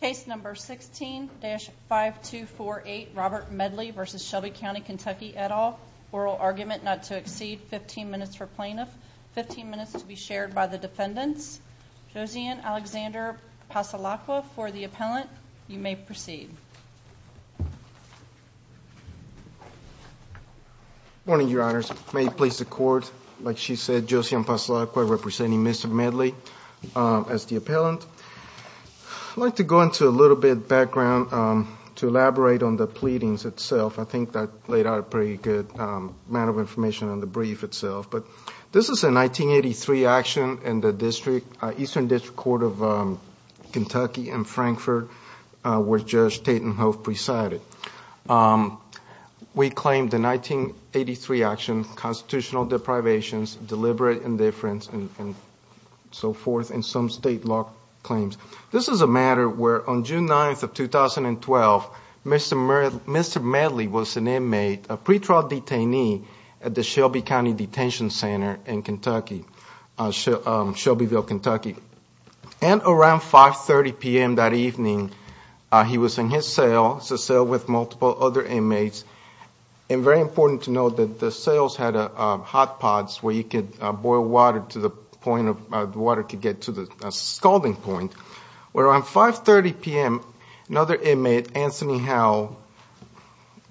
Case number 16-5248 Robert Medley v. Shelby County Kentucky et al. Oral argument not to exceed 15 minutes for plaintiff, 15 minutes to be shared by the defendants. Josian Alexander Pasolacqua for the appellant. You may proceed. Morning, Your Honors. May it please the court, like she I'd like to go into a little bit of background to elaborate on the pleadings itself. I think that laid out a pretty good amount of information on the brief itself. But this is a 1983 action in the District, Eastern District Court of Kentucky in Frankfort, where Judge Taten-Hoff presided. We claimed the 1983 action constitutional deprivations, deliberate indifference, and so forth in some state law claims. This is a matter where on June 9th of 2012, Mr. Medley was an inmate, a pretrial detainee, at the Shelby County Detention Center in Kentucky, Shelbyville, Kentucky. And around 530 p.m. that evening, he was in his cell. It's a cell with multiple other inmates. And very important to note that the cells had hot pots where you could boil water to the point of water could get to the scalding point. Where on 530 p.m., another inmate, Anthony Howell,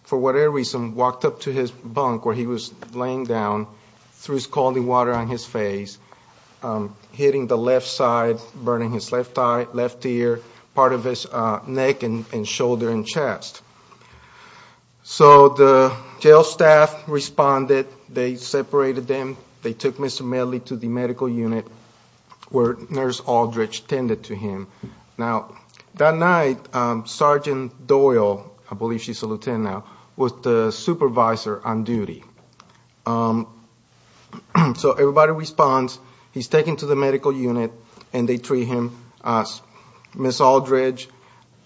for whatever reason, walked up to his bunk where he was laying down, threw scalding water on his face, hitting the left side, burning his left eye, left ear, part of his neck and shoulder and chest. So the jail staff responded. They separated them. They took Mr. Medley to the medical unit where Nurse Aldridge tended to him. Now, that night, Sergeant Doyle, I believe she's a lieutenant now, was the supervisor on duty. So everybody responds. He's taken to the medical unit and they treat him. Ms. Aldridge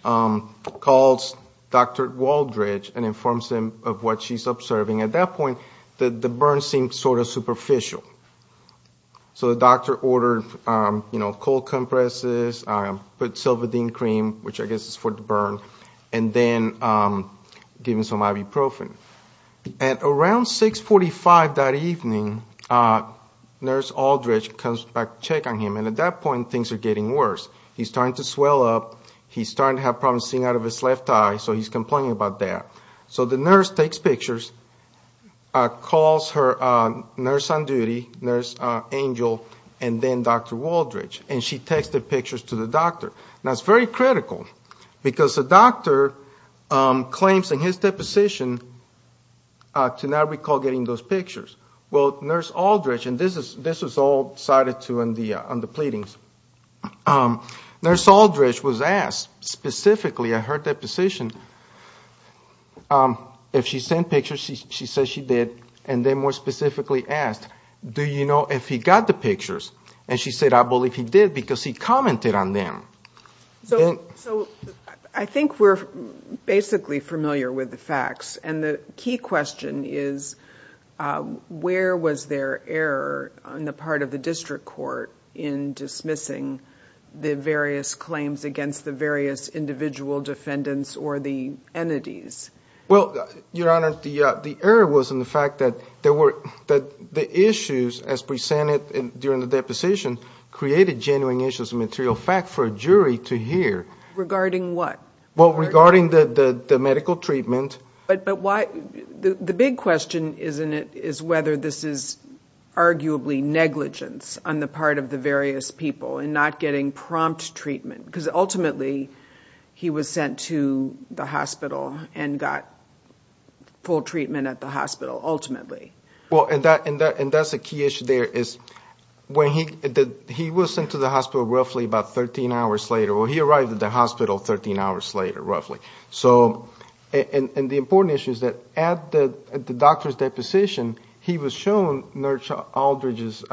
calls Dr. Waldridge and informs him of what she's observing. At that point, the burn seemed sort of superficial. So the doctor ordered cold compresses, put silvadene cream, which I guess is for the burn, and then given some ibuprofen. At around 645 that evening, Nurse Aldridge comes back to check on him. And at that point, things are getting worse. He's starting to swell up. He's starting to have problems seeing out of his left eye. So he's taking his pictures, calls her nurse on duty, Nurse Angel, and then Dr. Waldridge. And she takes the pictures to the doctor. Now, it's very critical because the doctor claims in his deposition to not recall getting those pictures. Well, Nurse Aldridge, and this was all cited on the pleadings, Nurse Aldridge was asked specifically, at her deposition, if she sent pictures. She said she did. And then more specifically asked, do you know if he got the pictures? And she said, I believe he did because he commented on them. So I think we're basically familiar with the facts. And the key question is, where was their error on the part of the district court in dismissing the various claims against the various individual defendants or the entities? Well, Your Honor, the error was in the fact that the issues as presented during the deposition created genuine issues of material fact for a jury to hear. Regarding what? Well, regarding the medical treatment. But why? The big question, isn't it, is whether this is arguably negligence on the part of the various people in not getting prompt treatment? Because ultimately, he was sent to the hospital and got full treatment at the hospital, ultimately. Well, and that's a key issue there is, when he did, he was sent to the hospital roughly about 13 hours later, or he arrived at the hospital 13 hours later, roughly. So, and the important issue is that at the doctor's deposition, he was shown Nurse Aldridge's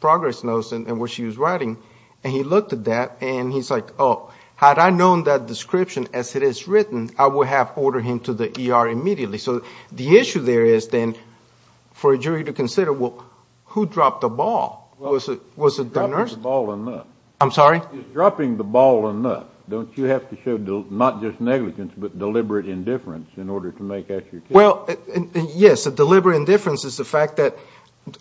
progress notes and what she was writing. And he looked at that, and he's like, oh, had I known that description as it is written, I would have ordered him to the ER immediately. So the issue there is then, for a jury to consider, well, who dropped the ball? Was it the nurse? Dropping the ball or not? I'm sorry? Not just negligence, but deliberate indifference in order to make extra care. Well, yes, a deliberate indifference is the fact that,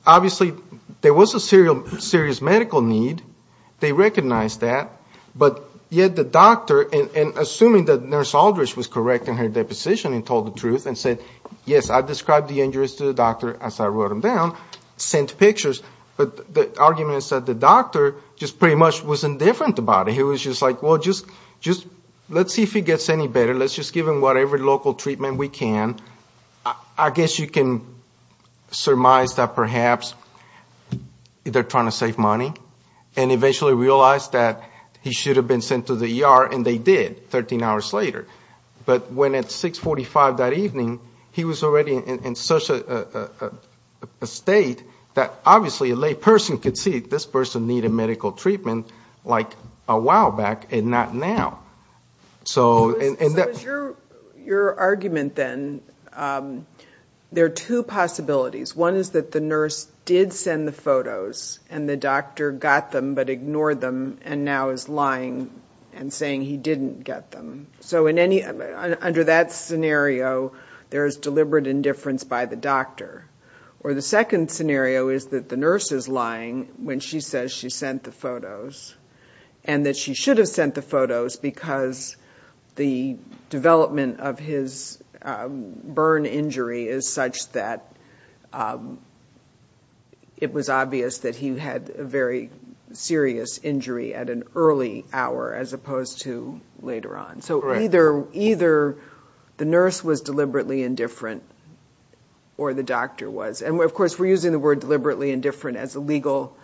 obviously, there was a serious medical need. They recognized that. But yet the doctor, and assuming that Nurse Aldridge was correct in her deposition and told the truth and said, yes, I described the injuries to the doctor as I wrote them down, sent pictures. But the argument is that the doctor just pretty much was indifferent about it. He was just like, well, just let's see if he gets any better. Let's just give him whatever local treatment we can. I guess you can surmise that perhaps they're trying to save money, and eventually realized that he should have been sent to the ER, and they did, 13 hours later. But when at 645 that evening, he was already in such a state that, obviously, a lay person could see this person needed medical treatment, like a while back, and not now. So is your argument, then, there are two possibilities. One is that the nurse did send the photos, and the doctor got them, but ignored them, and now is lying and saying he didn't get them. So under that scenario, there's deliberate indifference by the doctor. Or the second scenario is that the nurse is lying when she says she sent the photos, and that she should have sent the photos because the development of his burn injury is such that it was obvious that he had a very serious injury at an early hour, as opposed to later on. So either the nurse was deliberately indifferent, or the doctor was. And of course, we're using the word deliberately indifferent as a legal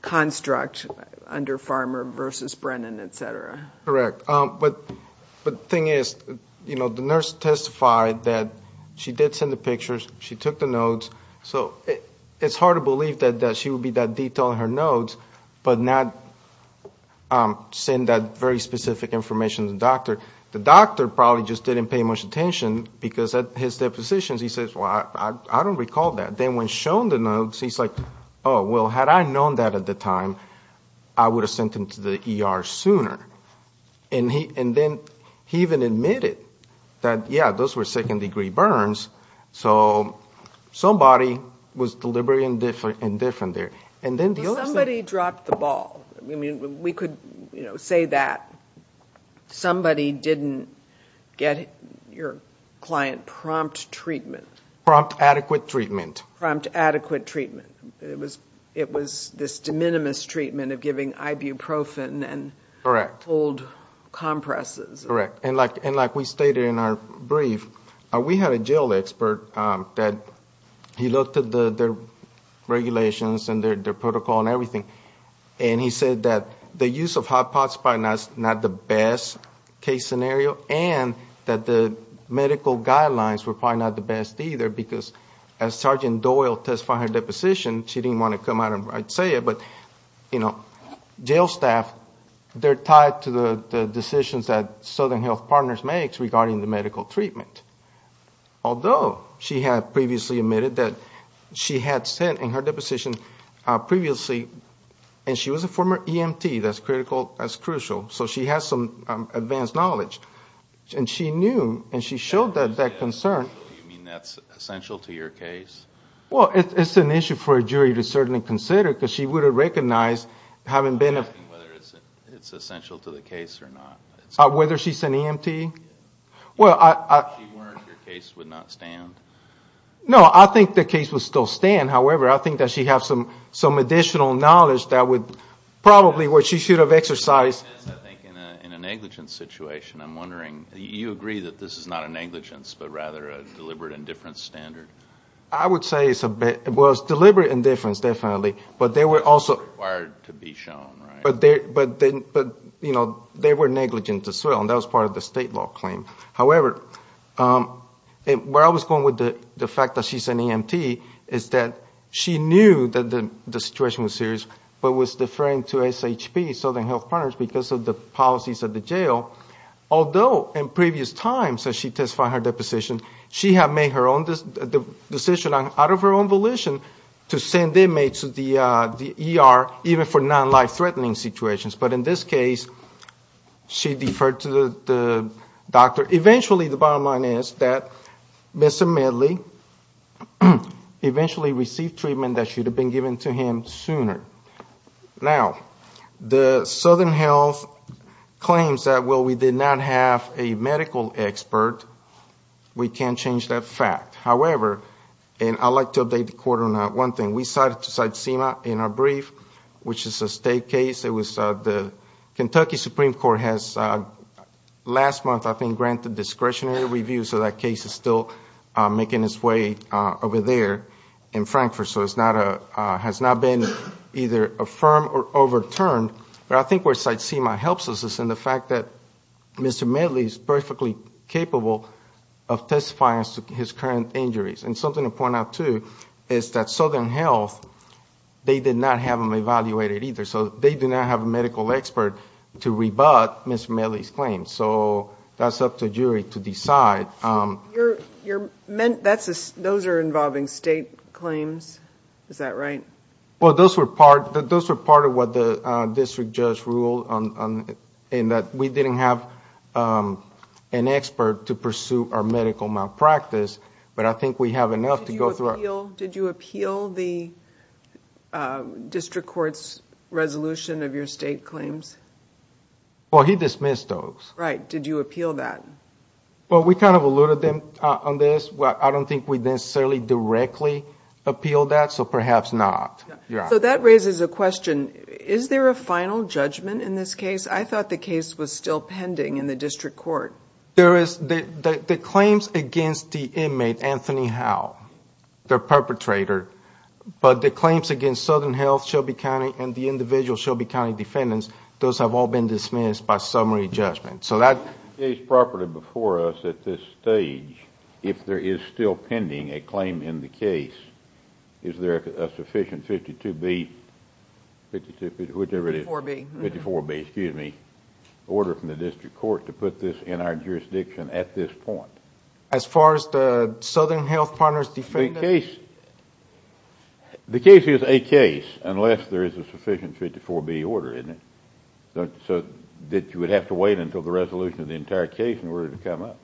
construct under Farmer versus Brennan, etc. Correct. But the thing is, you know, the nurse testified that she did send the pictures, she took the notes. So it's hard to believe that she would be that detail in her notes, but not send that very specific information to the doctor. The doctor probably just didn't pay much attention, because at his depositions, he says, well, I don't recall that. Then when shown the notes, he's like, oh, well, had I known that at the time, I would have sent him to the ER sooner. And then he even admitted that, yeah, those were second-degree burns. So somebody was deliberately indifferent there. Somebody dropped the ball. We could say that somebody didn't get your client prompt treatment. Prompt adequate treatment. Prompt adequate treatment. It was this de minimis treatment of giving ibuprofen and cold compresses. Correct. And like we stated in our brief, we had a jail expert that he looked at their regulations and their protocol and everything. And he said that the use of hot pots was probably not the best case scenario, and that the medical guidelines were probably not the best either, because as Sergeant Doyle testified at her deposition, she didn't want to come out and say it. But, you know, jail staff, they're tied to the decisions that Southern Health Partners makes regarding the medical treatment. Although she had previously admitted that she had sent in her deposition previously, and she was a former EMT, that's critical, that's crucial. So she has some advanced knowledge. And she knew, and she showed that concern. Do you mean that's essential to your case? Well, it's an issue for a jury to certainly consider, because she would have recognized having been a... I'm asking whether it's essential to the case or not. Whether she's an EMT? Well, I... If she weren't, your case would not stand? No, I think the case would still stand. However, I think that she has some additional knowledge that would probably what she should have exercised. I think in a negligence situation, I'm wondering, you agree that this is not a negligence, but rather a deliberate indifference standard? I would say it was deliberate indifference, definitely. But they were also... Required to be shown, right? But, you know, they were negligent as well. And that was part of the state law claim. However, where I was going with the fact that she's an EMT is that she knew that the situation was serious, but was deferring to SHP, Southern Health Partners, because of the policies of the jail. Although, in previous times that she testified her deposition, she had made her own decision out of her own volition to send inmates to the ER, even for non-life-threatening situations. But in this case, she deferred to the doctor. Eventually, the bottom line is that Mr. Medley eventually received treatment that should have been given to him sooner. Now, the Southern Health claims that, well, we did not have a medical expert. We can't change that fact. However, and I'd like to update the court on that one thing. We cited Tsitsima in our brief, which is a state case. It was the Kentucky Supreme Court has, last month, I think, granted discretionary review, so that case is still making its way over there in Frankfurt. So it's not a, has not been either affirmed or overturned. But I think where Tsitsima helps us is in the fact that Mr. Medley is perfectly capable of testifying as to his current injuries. And something to point out, too, is that Southern Health, they did not have them evaluated either. So they do not have a medical expert to rebut Mr. Medley's claim. So that's up to jury to decide. Those are involving state claims. Is that right? Well, those were part of what the district judge ruled in that we didn't have an expert to pursue our medical malpractice. But I think we have enough to go through. Did you appeal the district court's resolution of your state claims? Well, he dismissed those. Right. Did you appeal that? Well, we kind of alluded them on this. Well, I don't think we necessarily directly appealed that. So perhaps not. So that raises a question. Is there a final judgment in this case? I thought the case was still pending in the district court. There is. The claims against the inmate, Anthony Howell, the perpetrator, but the claims against Southern Health, Shelby County, and the individual Shelby County defendants, those have all been dismissed by summary judgment. So that... The case properly before us at this stage, if there is still pending a claim in the case, is there a sufficient 52B, whichever it is, 54B, excuse me, order from the district court to put this in our jurisdiction at this point? As far as the Southern Health partners defendants? The case is a case unless there is a sufficient 54B order in it. So that you would have to wait until the resolution of the entire case in order to come up.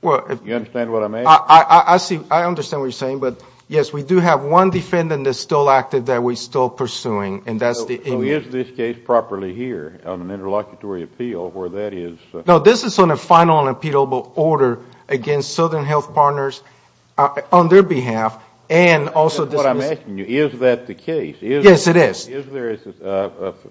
Well, if... You understand what I'm asking? I see. I understand what you're saying. But yes, we do have one defendant that's still active that we're still pursuing, and that's the inmate. Is this case properly here on an interlocutory appeal where that is... No, this is on a final and appealable order against Southern Health partners on their behalf, and also... That's what I'm asking you. Is that the case? Yes, it is. Is there a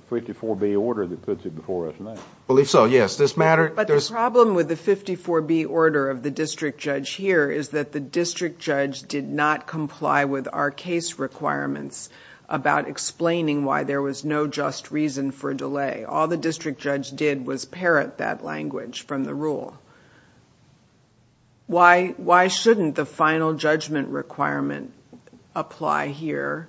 54B order that puts it before us now? I believe so, yes. This matter... But the problem with the 54B order of the district judge here is that the district judge did not comply with our case requirements about explaining why there was no just reason for a delay. All the district judge did was parrot that language from the rule. Why shouldn't the final judgment requirement apply here?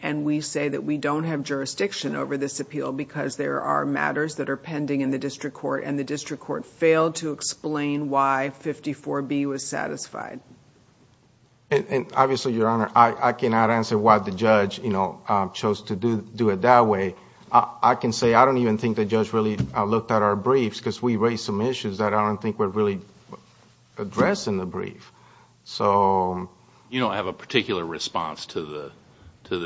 And we say that we don't have jurisdiction over this appeal because there are matters that are pending in the district court, and the district court failed to explain why 54B was satisfied. And obviously, Your Honor, I cannot answer why the judge, you know, chose to do it that way. I can say I don't even think the judge really looked at our briefs because we raised some issues that I don't think were really addressed in the brief. So... You don't have a particular response to the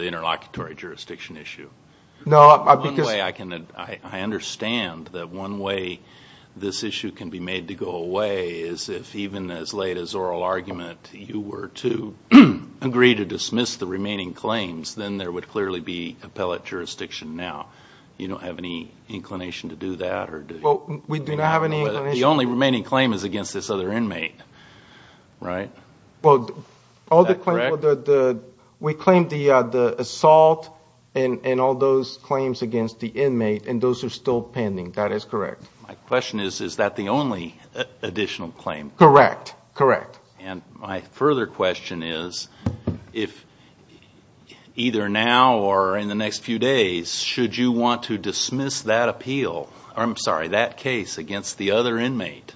interlocutory jurisdiction issue? No, because... One way I can... I understand that one way this issue can be made to go away is if even as late as oral argument, you were to agree to dismiss the remaining claims, then there would clearly be appellate jurisdiction now. You don't have any inclination to do that or do you? Well, we do not have any inclination... The only remaining claim is against this other inmate, right? Well, all the claims... Is that correct? We claimed the assault and all those claims against the inmate and those are still pending. That is correct. My question is, is that the only additional claim? Correct. Correct. And my further question is, if either now or in the next few days, should you want to dismiss that appeal, I'm sorry, that case against the other inmate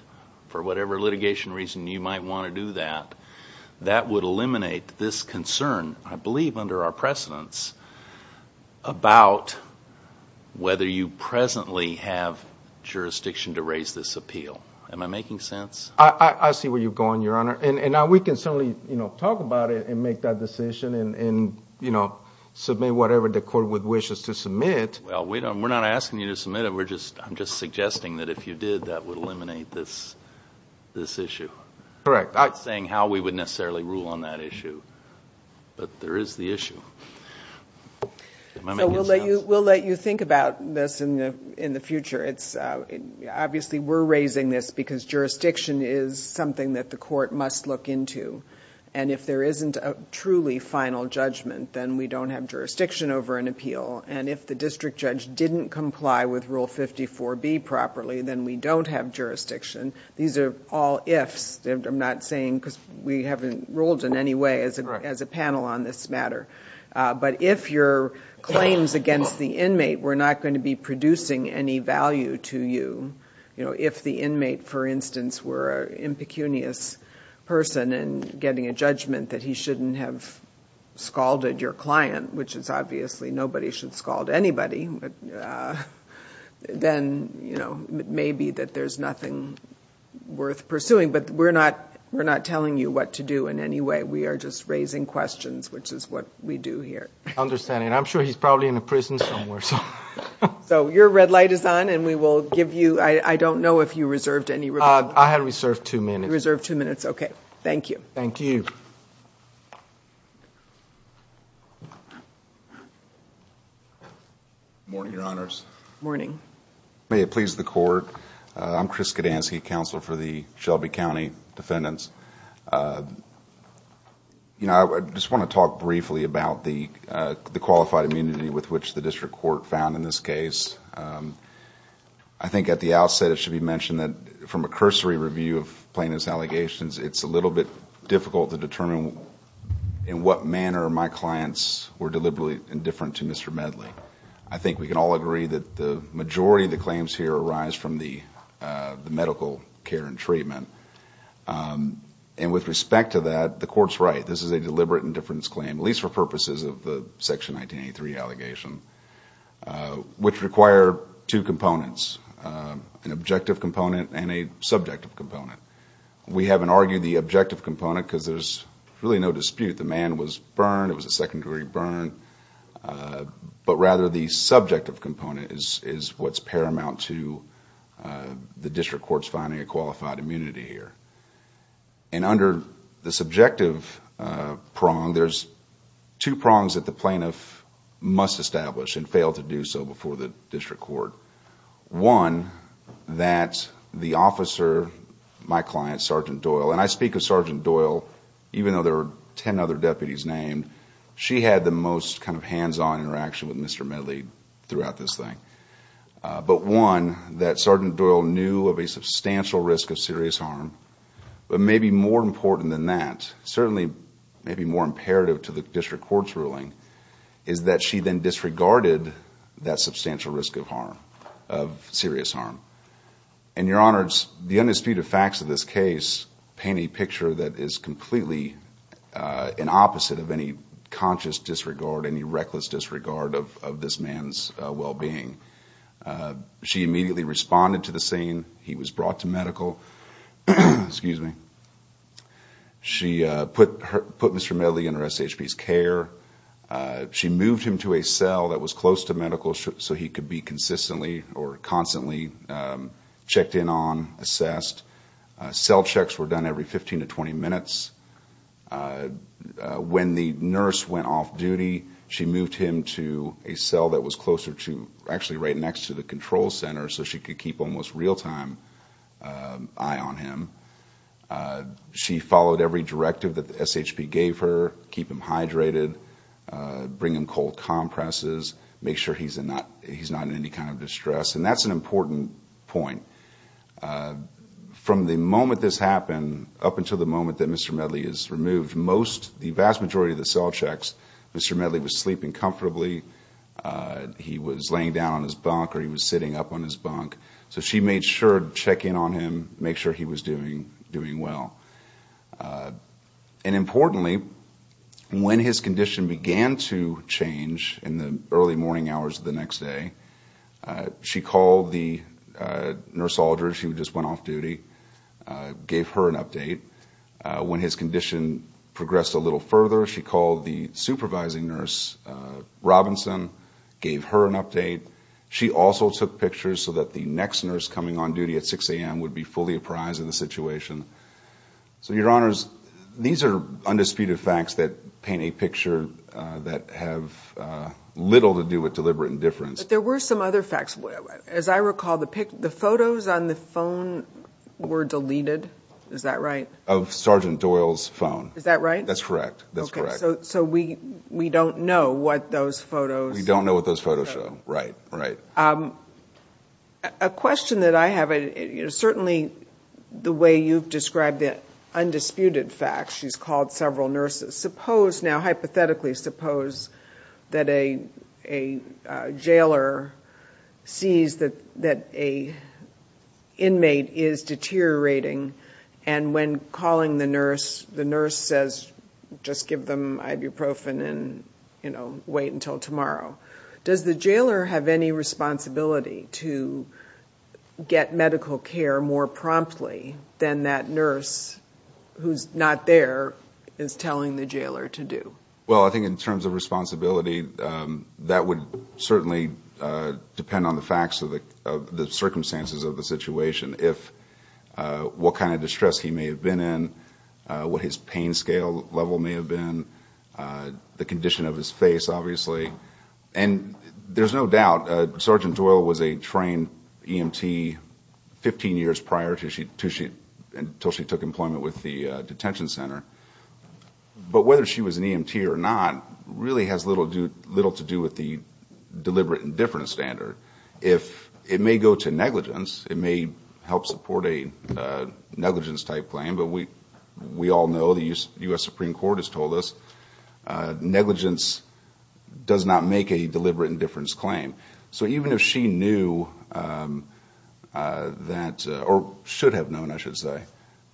for whatever litigation reason you might want to do that, that would eliminate this concern, I believe under our precedence, about whether you presently have jurisdiction to raise this appeal. Am I making sense? I see where you're going, Your Honor. And now we can certainly, you know, talk about it and make that decision and, you know, submit whatever the court would wish us to submit. Well, we're not asking you to submit it. We're just, I'm just suggesting that if you did, that would eliminate this issue. Correct. I'm not saying how we would necessarily rule on that issue, but there is the issue. So we'll let you think about this in the future. It's obviously, we're raising this because jurisdiction is something that the court must look into. And if there isn't a truly final judgment, then we don't have jurisdiction over an appeal. And if the district judge didn't comply with Rule 54B properly, then we don't have jurisdiction. These are all ifs. I'm not saying, because we haven't ruled in any way as a panel on this matter. But if your claims against the inmate were not going to be producing any value to you, you know, if the inmate, for instance, were impecunious person and getting a judgment that he shouldn't have scalded your client, which is obviously nobody should scald anybody, then, you know, maybe that there's nothing worth pursuing. But we're not telling you what to do in any way. We are just raising questions, which is what we do here. Understanding. I'm sure he's probably in a prison somewhere. So your red light is on and we will give you, I don't know if you reserved any. I had reserved two minutes. Reserved two minutes. Okay. Thank you. Thank you. Morning, Your Honors. Morning. May it please the Court. I'm Chris Skadansky, Counselor for the Shelby County Defendants. You know, I just want to talk briefly about the qualified immunity with which the district court found in this case. I think at the outset, it should be mentioned that from a cursory review of plaintiff's allegations, it's a little bit difficult to determine in what manner my clients were deliberately indifferent to Mr. Medley. I think we can all agree that the majority of the claims here arise from the medical care and treatment. And with respect to that, the Court's right. This is a deliberate indifference claim, at least for purposes of the Section 1983 allegation, which requires the plaintiff to acquire two components, an objective component and a subjective component. We haven't argued the objective component because there's really no dispute. The man was burned. It was a second-degree burn, but rather the subjective component is what's paramount to the district court's finding a qualified immunity here. And under the subjective prong, there's two prongs that the plaintiff must establish and failed to do so before the district court. One, that the officer, my client, Sgt. Doyle, and I speak of Sgt. Doyle, even though there are ten other deputies named, she had the most hands-on interaction with Mr. Medley throughout this thing. But one, that Sgt. Doyle knew of a substantial risk of serious harm. But maybe more important than that, certainly maybe more imperative to the district court's ruling, is that she then disregarded that substantial risk of harm, of serious harm. And Your Honors, the undisputed facts of this case paint a picture that is completely an opposite of any conscious disregard, any reckless disregard of this man's well-being. She immediately responded to the scene. He was brought to medical. Excuse me. She put Mr. Medley in her SHP's care. She moved him to a cell that was close to medical so he could be consistently or constantly checked in on, assessed. Cell checks were done every 15 to 20 minutes. When the nurse went off duty, she moved him to a cell that was closer to, actually right next to the control center, so she could keep almost real-time eye on him. She followed every directive that the SHP gave her. Keep him hydrated. Bring him cold compresses. Make sure he's not in any kind of distress. And that's an important point. From the moment this happened up until the moment that Mr. Medley is removed, most, the vast majority of the cell checks, Mr. Medley was sleeping comfortably. He was laying down on his bunk or he was sitting up on his bunk. So she made sure to check in on him, make sure he was doing good. Doing well. And importantly, when his condition began to change in the early morning hours of the next day, she called the nurse soldier. She just went off duty. Gave her an update. When his condition progressed a little further, she called the supervising nurse Robinson. Gave her an update. She also took pictures so that the next nurse coming on duty at 6 o'clock in the morning could see what was going on in the situation. So your honors, these are undisputed facts that paint a picture that have little to do with deliberate indifference. But there were some other facts, as I recall, the photos on the phone were deleted. Is that right? Of Sergeant Doyle's phone. Is that right? That's correct. That's correct. So we don't know what those photos. We don't know what those photos show. Right. Right. A question that I have, certainly the way you've described the undisputed facts, she's called several nurses. Suppose now, hypothetically, suppose that a jailer sees that an inmate is deteriorating and when calling the nurse, the nurse says, just give them ibuprofen and, you know, wait until tomorrow. Does the jailer have any responsibility to get medical care more promptly than that nurse who's not there is telling the jailer to do? Well, I think in terms of responsibility, that would certainly depend on the facts of the circumstances of the situation. If what kind of distress he may have been in, what his pain scale level may have been, the condition of his face, obviously, and there's no doubt Sergeant Doyle was a trained EMT 15 years prior to she took employment with the detention center. But whether she was an EMT or not really has little to do with the deliberate indifference standard. If it may go to negligence, it may help support a negligence type claim. But we all know the U.S. Supreme Court has told us negligence does not make a deliberate indifference claim. So even if she knew that or should have known, I should say,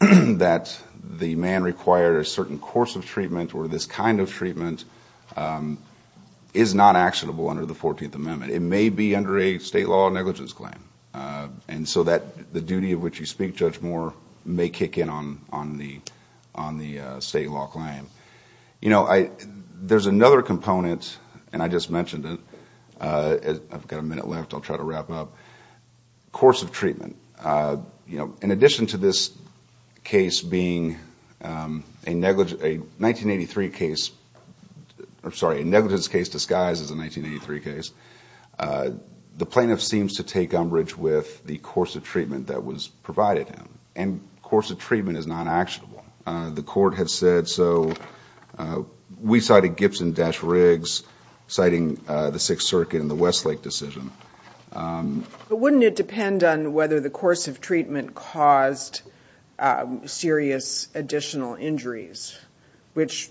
that the man required a certain course of treatment or this kind of treatment is not actionable under the 14th Amendment. It may be under a state law negligence claim. And so that the duty of which you speak, Judge Moore, may kick in on the state law claim. You know, there's another component and I just mentioned it. I've got a minute left. I'll try to wrap up. Course of treatment, you know, in addition to this case being a negligence case disguised as a 1983 case, the plaintiff seems to take umbrage with the course of treatment that was provided him. And course of treatment is not actionable. The court has said so. We cited Gibson-Riggs, citing the Sixth Circuit and the Westlake decision. But wouldn't it depend on whether the course of treatment caused serious additional injuries, which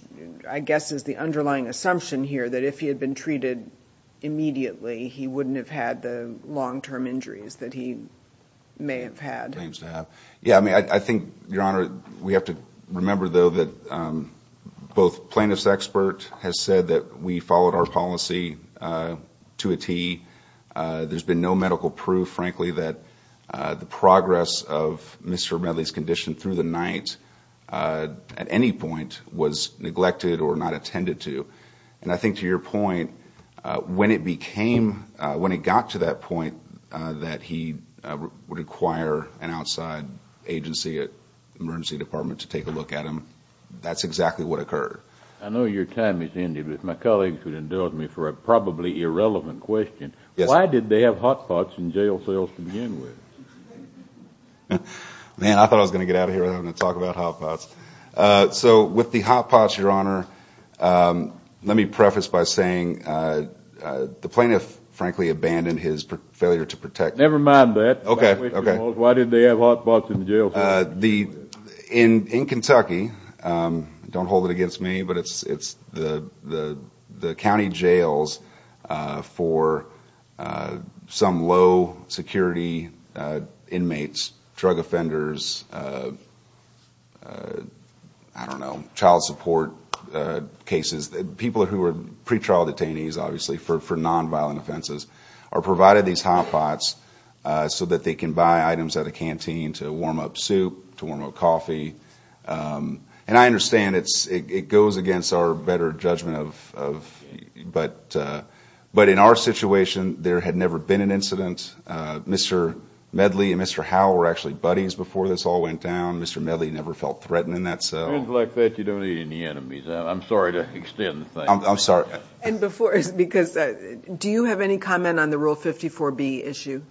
I guess is the underlying assumption here that if he had been treated immediately, he wouldn't have had the long-term injuries that he may have had. Yeah, I mean, I think, Your Honor, we have to remember though that both plaintiff's expert has said that we followed our policy to a T. There's been no medical proof, frankly, that the progress of Mr. Medley's condition through the night at any point was neglected or not attended to. And I think to your point, when it became, when it got to that point that he would require an outside agency, emergency department to take a look at him, that's exactly what occurred. I know your time is ended, but my colleagues would indulge me for a probably irrelevant question. Why did they have hot pots in jail cells to begin with? Man, I thought I was going to get out of here without having to talk about hot pots. So with the hot pots, Your Honor, let me preface by saying the failure to protect. Never mind that. Okay. Okay. Why did they have hot pots in jail? In Kentucky, don't hold it against me, but it's the county jails for some low security inmates, drug offenders, I don't know, child support cases, people who are pretrial detainees, obviously, for nonviolent offenses, are provided these hot pots so that they can buy items at a canteen to warm up soup, to warm up coffee. And I understand it goes against our better judgment, but in our situation, there had never been an incident. Mr. Medley and Mr. Howell were actually buddies before this all went down. Mr. Medley never felt threatened in that cell. Friends like that, you don't need any enemies. I'm sorry to extend the thanks. I'm sorry. And before, because do you have any comment on the Rule 54B issue?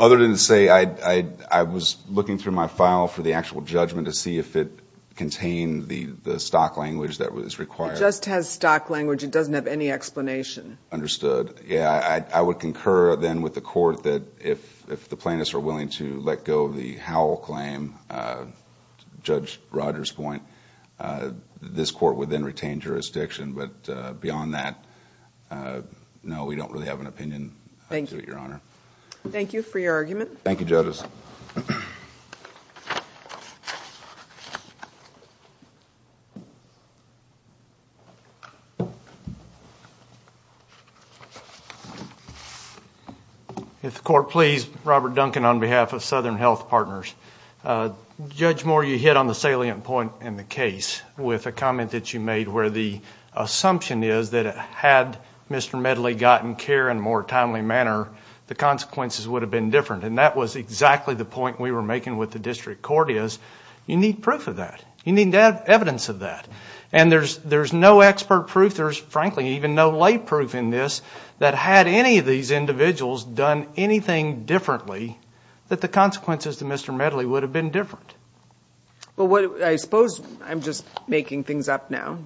Other than to say, I was looking through my file for the actual judgment to see if it contained the stock language that was required. It just has stock language. It doesn't have any explanation. Understood. Yeah. I would concur then with the court that if the plaintiffs are willing to let go of the Howell claim, Judge Rogers' point, this court would then retain jurisdiction. But beyond that, no, we don't really have an opinion, Your Honor. Thank you for your argument. Thank you, judges. If the court please, Robert Duncan on behalf of Southern Health Partners. Judge Moore, you hit on the salient point in the case with a comment that you made where the assumption is that had Mr. Medley gotten care in a more timely manner, the consequences would have been different. And that was exactly the point we were making with the district court is, you need proof of that. You need to have evidence of that. And there's no expert proof. There's frankly, even no lay proof in this that had any of these individuals done anything differently, that the consequences to Mr. Medley would have been different. Well, I suppose I'm just making things up now.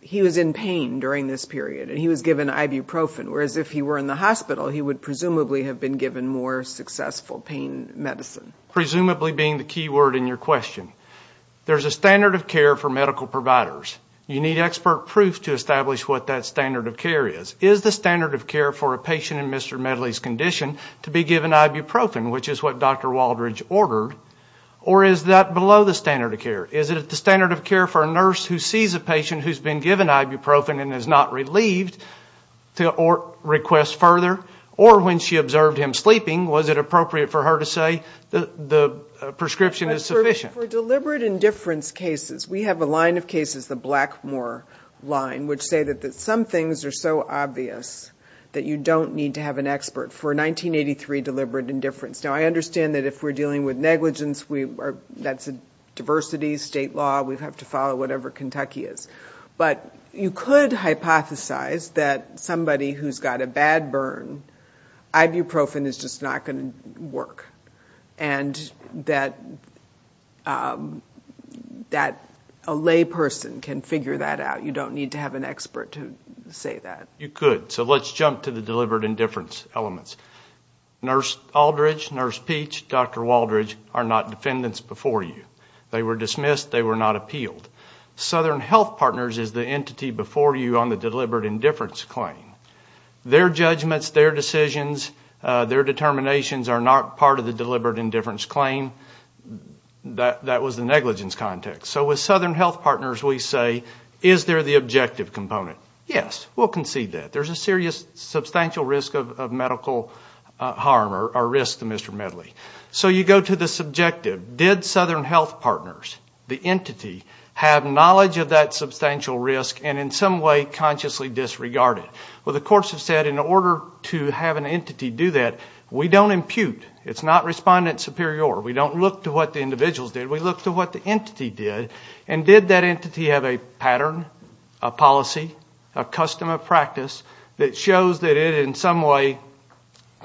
He was in pain during this period and he was given ibuprofen, whereas if he were in the hospital, he would presumably have been given more successful pain medicine. Presumably being the key word in your question. There's a standard of care for medical providers. You need expert proof to establish what that standard of care is. Is the standard of care for a patient in Mr. Medley's condition to be given ibuprofen, which is what Dr. Is that below the standard of care? Is it the standard of care for a nurse who sees a patient who's been given ibuprofen and is not relieved to request further? Or when she observed him sleeping, was it appropriate for her to say that the prescription is sufficient? For deliberate indifference cases, we have a line of cases, the Blackmore line, which say that some things are so obvious that you don't need to have an expert. For 1983 deliberate indifference. Now, I understand that if we're dealing with negligence, we are that's a diversity state law. We have to follow whatever Kentucky is, but you could hypothesize that somebody who's got a bad burn. Ibuprofen is just not going to work and that that a lay person can figure that out. You don't need to have an expert to say that you could so let's jump to the deliberate indifference elements. Nurse Aldridge, Nurse Peach, Dr. Waldridge are not defendants before you. They were dismissed. They were not appealed. Southern Health Partners is the entity before you on the deliberate indifference claim. Their judgments, their decisions, their determinations are not part of the deliberate indifference claim. That was the negligence context. So with Southern Health Partners, we say, is there the objective component? Yes, we'll concede that. There's a serious substantial risk of medical harm or risk to Mr. Medley. So you go to the subjective. Did Southern Health Partners, the entity, have knowledge of that substantial risk and in some way consciously disregarded? Well, the courts have said in order to have an entity do that, we don't impute. It's not respondent superior. We don't look to what the individuals did. We look to what the entity did and did that entity have a pattern, a that shows that it in some way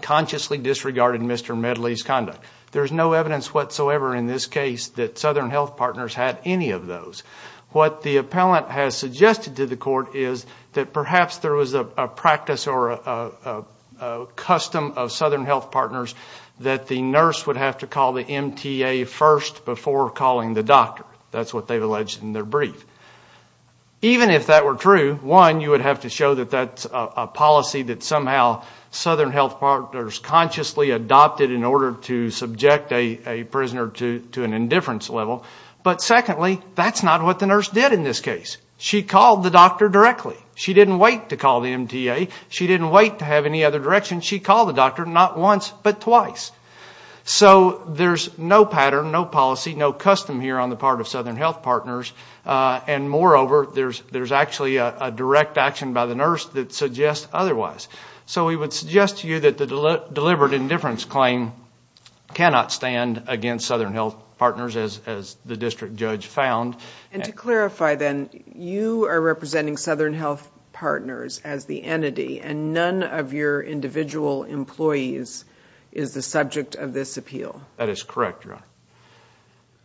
consciously disregarded Mr. Medley's conduct. There's no evidence whatsoever in this case that Southern Health Partners had any of those. What the appellant has suggested to the court is that perhaps there was a practice or a custom of Southern Health Partners that the nurse would have to call the MTA first before calling the doctor. That's what they've alleged in their brief. Even if that were true, one, you would have to show that that's a policy that somehow Southern Health Partners consciously adopted in order to subject a prisoner to an indifference level. But secondly, that's not what the nurse did in this case. She called the doctor directly. She didn't wait to call the MTA. She didn't wait to have any other direction. She called the doctor not once but twice. health partners and moreover, there's actually a direct action by the nurse that suggests otherwise. So we would suggest to you that the deliberate indifference claim cannot stand against Southern Health Partners as the district judge found. And to clarify then, you are representing Southern Health Partners as the entity and none of your individual employees is the subject of this appeal. That is correct, Your Honor.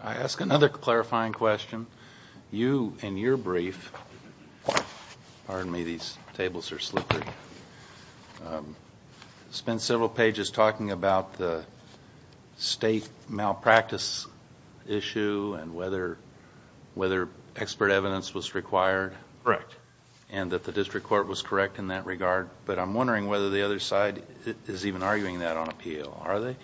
I ask another clarifying question. You, in your brief, pardon me, these tables are slippery, spend several pages talking about the state malpractice issue and whether expert evidence was required. Correct. And that the district court was correct in that regard. But I'm wondering whether the other side is even arguing that on appeal. Are they?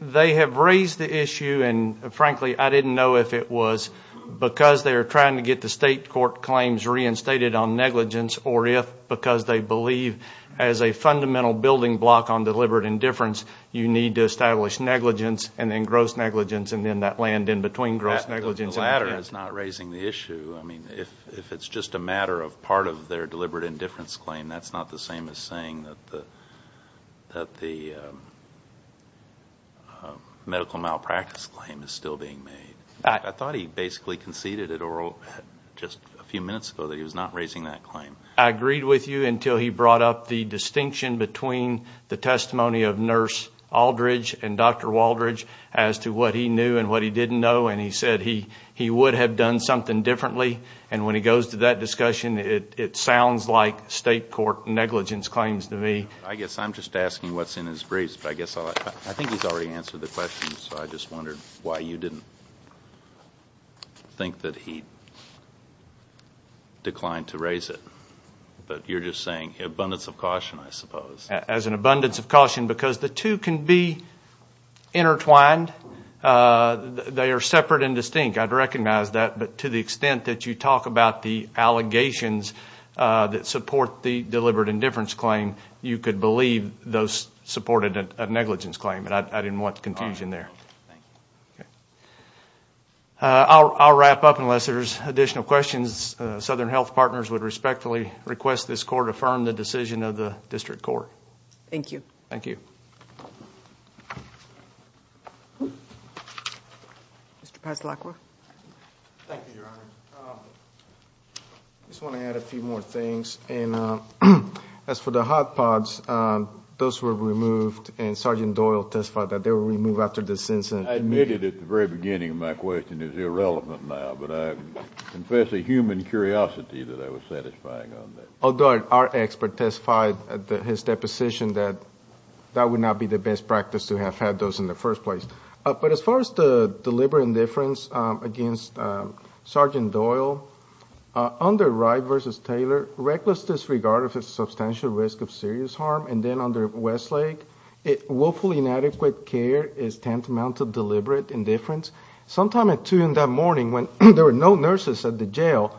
They have raised the issue and frankly, I didn't know if it was because they are trying to get the state court claims reinstated on negligence or if because they believe as a fundamental building block on deliberate indifference, you need to establish negligence and then gross negligence and then that land in between gross negligence. The latter is not raising the issue. I mean, if it's just a matter of part of their deliberate indifference claim, that's not the same as saying that the medical malpractice claim is still being made. I thought he basically conceded at oral just a few minutes ago that he was not raising that claim. I agreed with you until he brought up the distinction between the testimony of Nurse Aldridge and Dr. Waldridge as to what he knew and what he didn't know. And he said he would have done something differently. And when he goes to that discussion, it sounds like state court negligence claims to me. I guess I'm just asking what's in his briefs, but I guess I think he's already answered the question. So I just wondered why you didn't think that he declined to raise it, but you're just saying abundance of caution, I suppose. As an abundance of caution because the two can be intertwined. They are separate and distinct. I'd recognize that, but to the extent that you talk about the allegations that support the deliberate indifference claim, you could believe those supported a negligence claim, but I didn't want confusion there. I'll wrap up unless there's additional questions. Southern Health Partners would respectfully request this court affirm the decision of the District Court. Thank you. Thank you. Mr. Paz-Lacroix. Thank you, Your Honor. I just want to add a few more things. And as for the hot pods, those were removed and Sergeant Doyle testified that they were removed after the sentencing. I admitted at the very beginning my question is irrelevant now, but I confess a human curiosity that I was satisfying on that. Although our expert testified at his deposition that that would not be the best practice to do that. It's not the best practice to have had those in the first place. But as far as the deliberate indifference against Sergeant Doyle, under Wright v. Taylor, reckless disregard of his substantial risk of serious harm. And then under Westlake, willfully inadequate care is tantamount to deliberate indifference. Sometime at two in that morning when there were no nurses at the jail,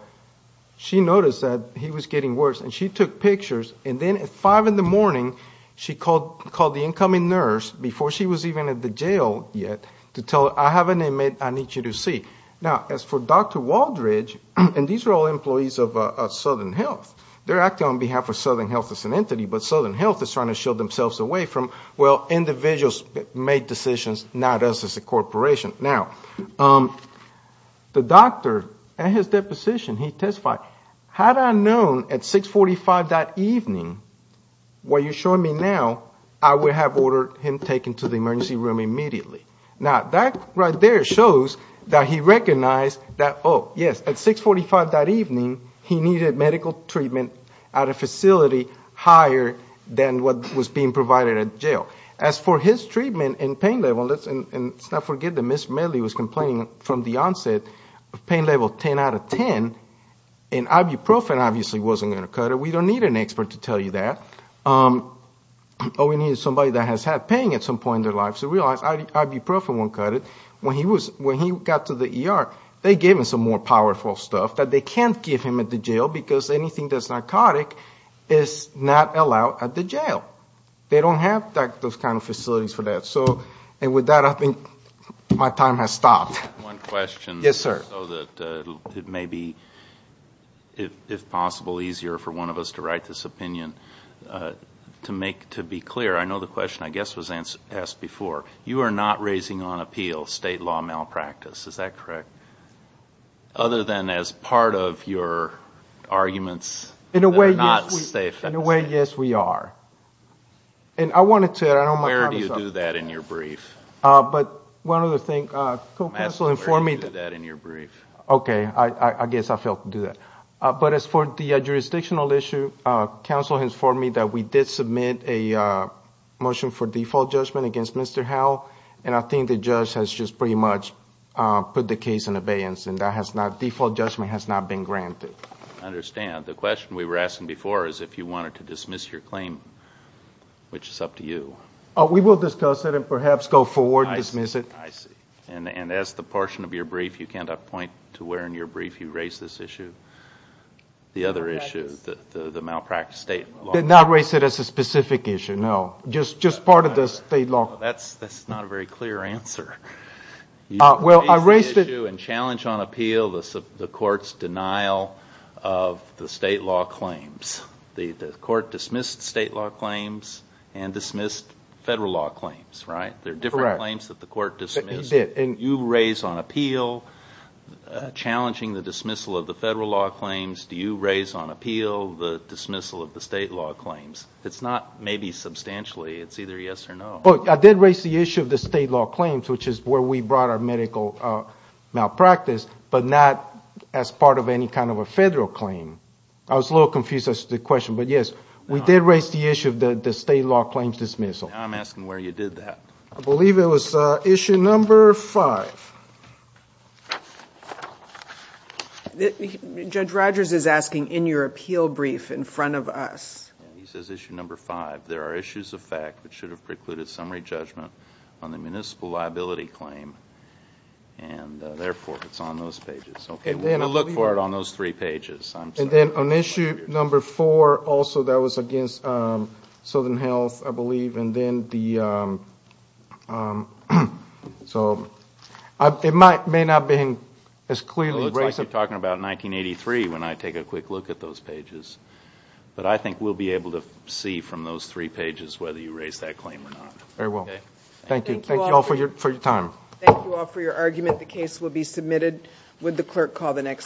she noticed that he was getting worse and she took pictures. And then at five in the morning, she called the incoming nurse before she was even at the jail yet to tell her, I have an inmate I need you to see. Now, as for Dr. Waldridge, and these are all employees of Southern Health, they're acting on behalf of Southern Health as an entity, but Southern Health is trying to shield themselves away from, well, individuals made decisions, not us as a corporation. Now, the doctor at his deposition, he testified, had I known at 645 that evening, what you're showing me now, I would have ordered him taken to the emergency room immediately. Now, that right there shows that he recognized that, oh, yes, at 645 that evening, he needed medical treatment at a facility higher than what was being provided at jail. As for his treatment and pain level, and let's not forget that Ms. Medley was complaining from the onset of pain level 10 out of 10, and ibuprofen obviously wasn't going to cut it. We don't need an expert to tell you that. All we need is somebody that has had pain at some point in their lives to realize ibuprofen won't cut it. When he got to the ER, they gave him some more powerful stuff that they can't give him at the jail because anything that's narcotic is not allowed at the jail. They don't have those kind of facilities for that. So, and with that, I think my time has stopped. One question. Yes, sir. So that it may be, if possible, easier for one of us to write this opinion. To make, to be clear, I know the question, I guess, was asked before, you are not raising on appeal state law malpractice. Is that correct? Other than as part of your arguments that are not safe. In a way, yes, we are. And I wanted to, I don't know. Where do you do that in your brief? But one other thing. I guess I failed to do that. But as for the jurisdictional issue, counsel has informed me that we did submit a motion for default judgment against Mr. Howell. And I think the judge has just pretty much put the case in abeyance and that has not, default judgment has not been granted. I understand. The question we were asking before is if you wanted to dismiss your claim, which is up to you. We will discuss it and perhaps go forward and dismiss it. I see. And as the portion of your brief, you cannot point to where in your brief you raised this issue. The other issue, the malpractice statement. I did not raise it as a specific issue. No, just part of the state law. That's not a very clear answer. Well, I raised it. In challenge on appeal, the court's denial of the state law claims. The court dismissed state law claims and dismissed federal law claims, right? There are different claims that the court dismissed. He did. You raise on appeal, challenging the dismissal of the federal law claims. Do you raise on appeal the dismissal of the state law claims? It's not maybe substantially. It's either yes or no. But I did raise the issue of the state law claims, which is where we brought our medical malpractice, but not as part of any kind of a federal claim. I was a little confused as to the question, but yes, we did raise the issue of the state law claims dismissal. I'm asking where you did that. I believe it was issue number five. Judge Rogers is asking in your appeal brief in front of us. He says issue number five. There are issues of fact, which should have precluded summary judgment on the municipal liability claim. And therefore, it's on those pages. Okay, we're going to look for it on those three pages. And then on issue number four, also that was against Southern Health, I believe. And then it may not have been as clearly raised. It looks like you're talking about 1983 when I take a quick look at those pages. But I think we'll be able to see from those three pages whether you raise that claim or not. Very well. Thank you all for your time. Thank you all for your argument. The case will be submitted. Would the clerk call the next?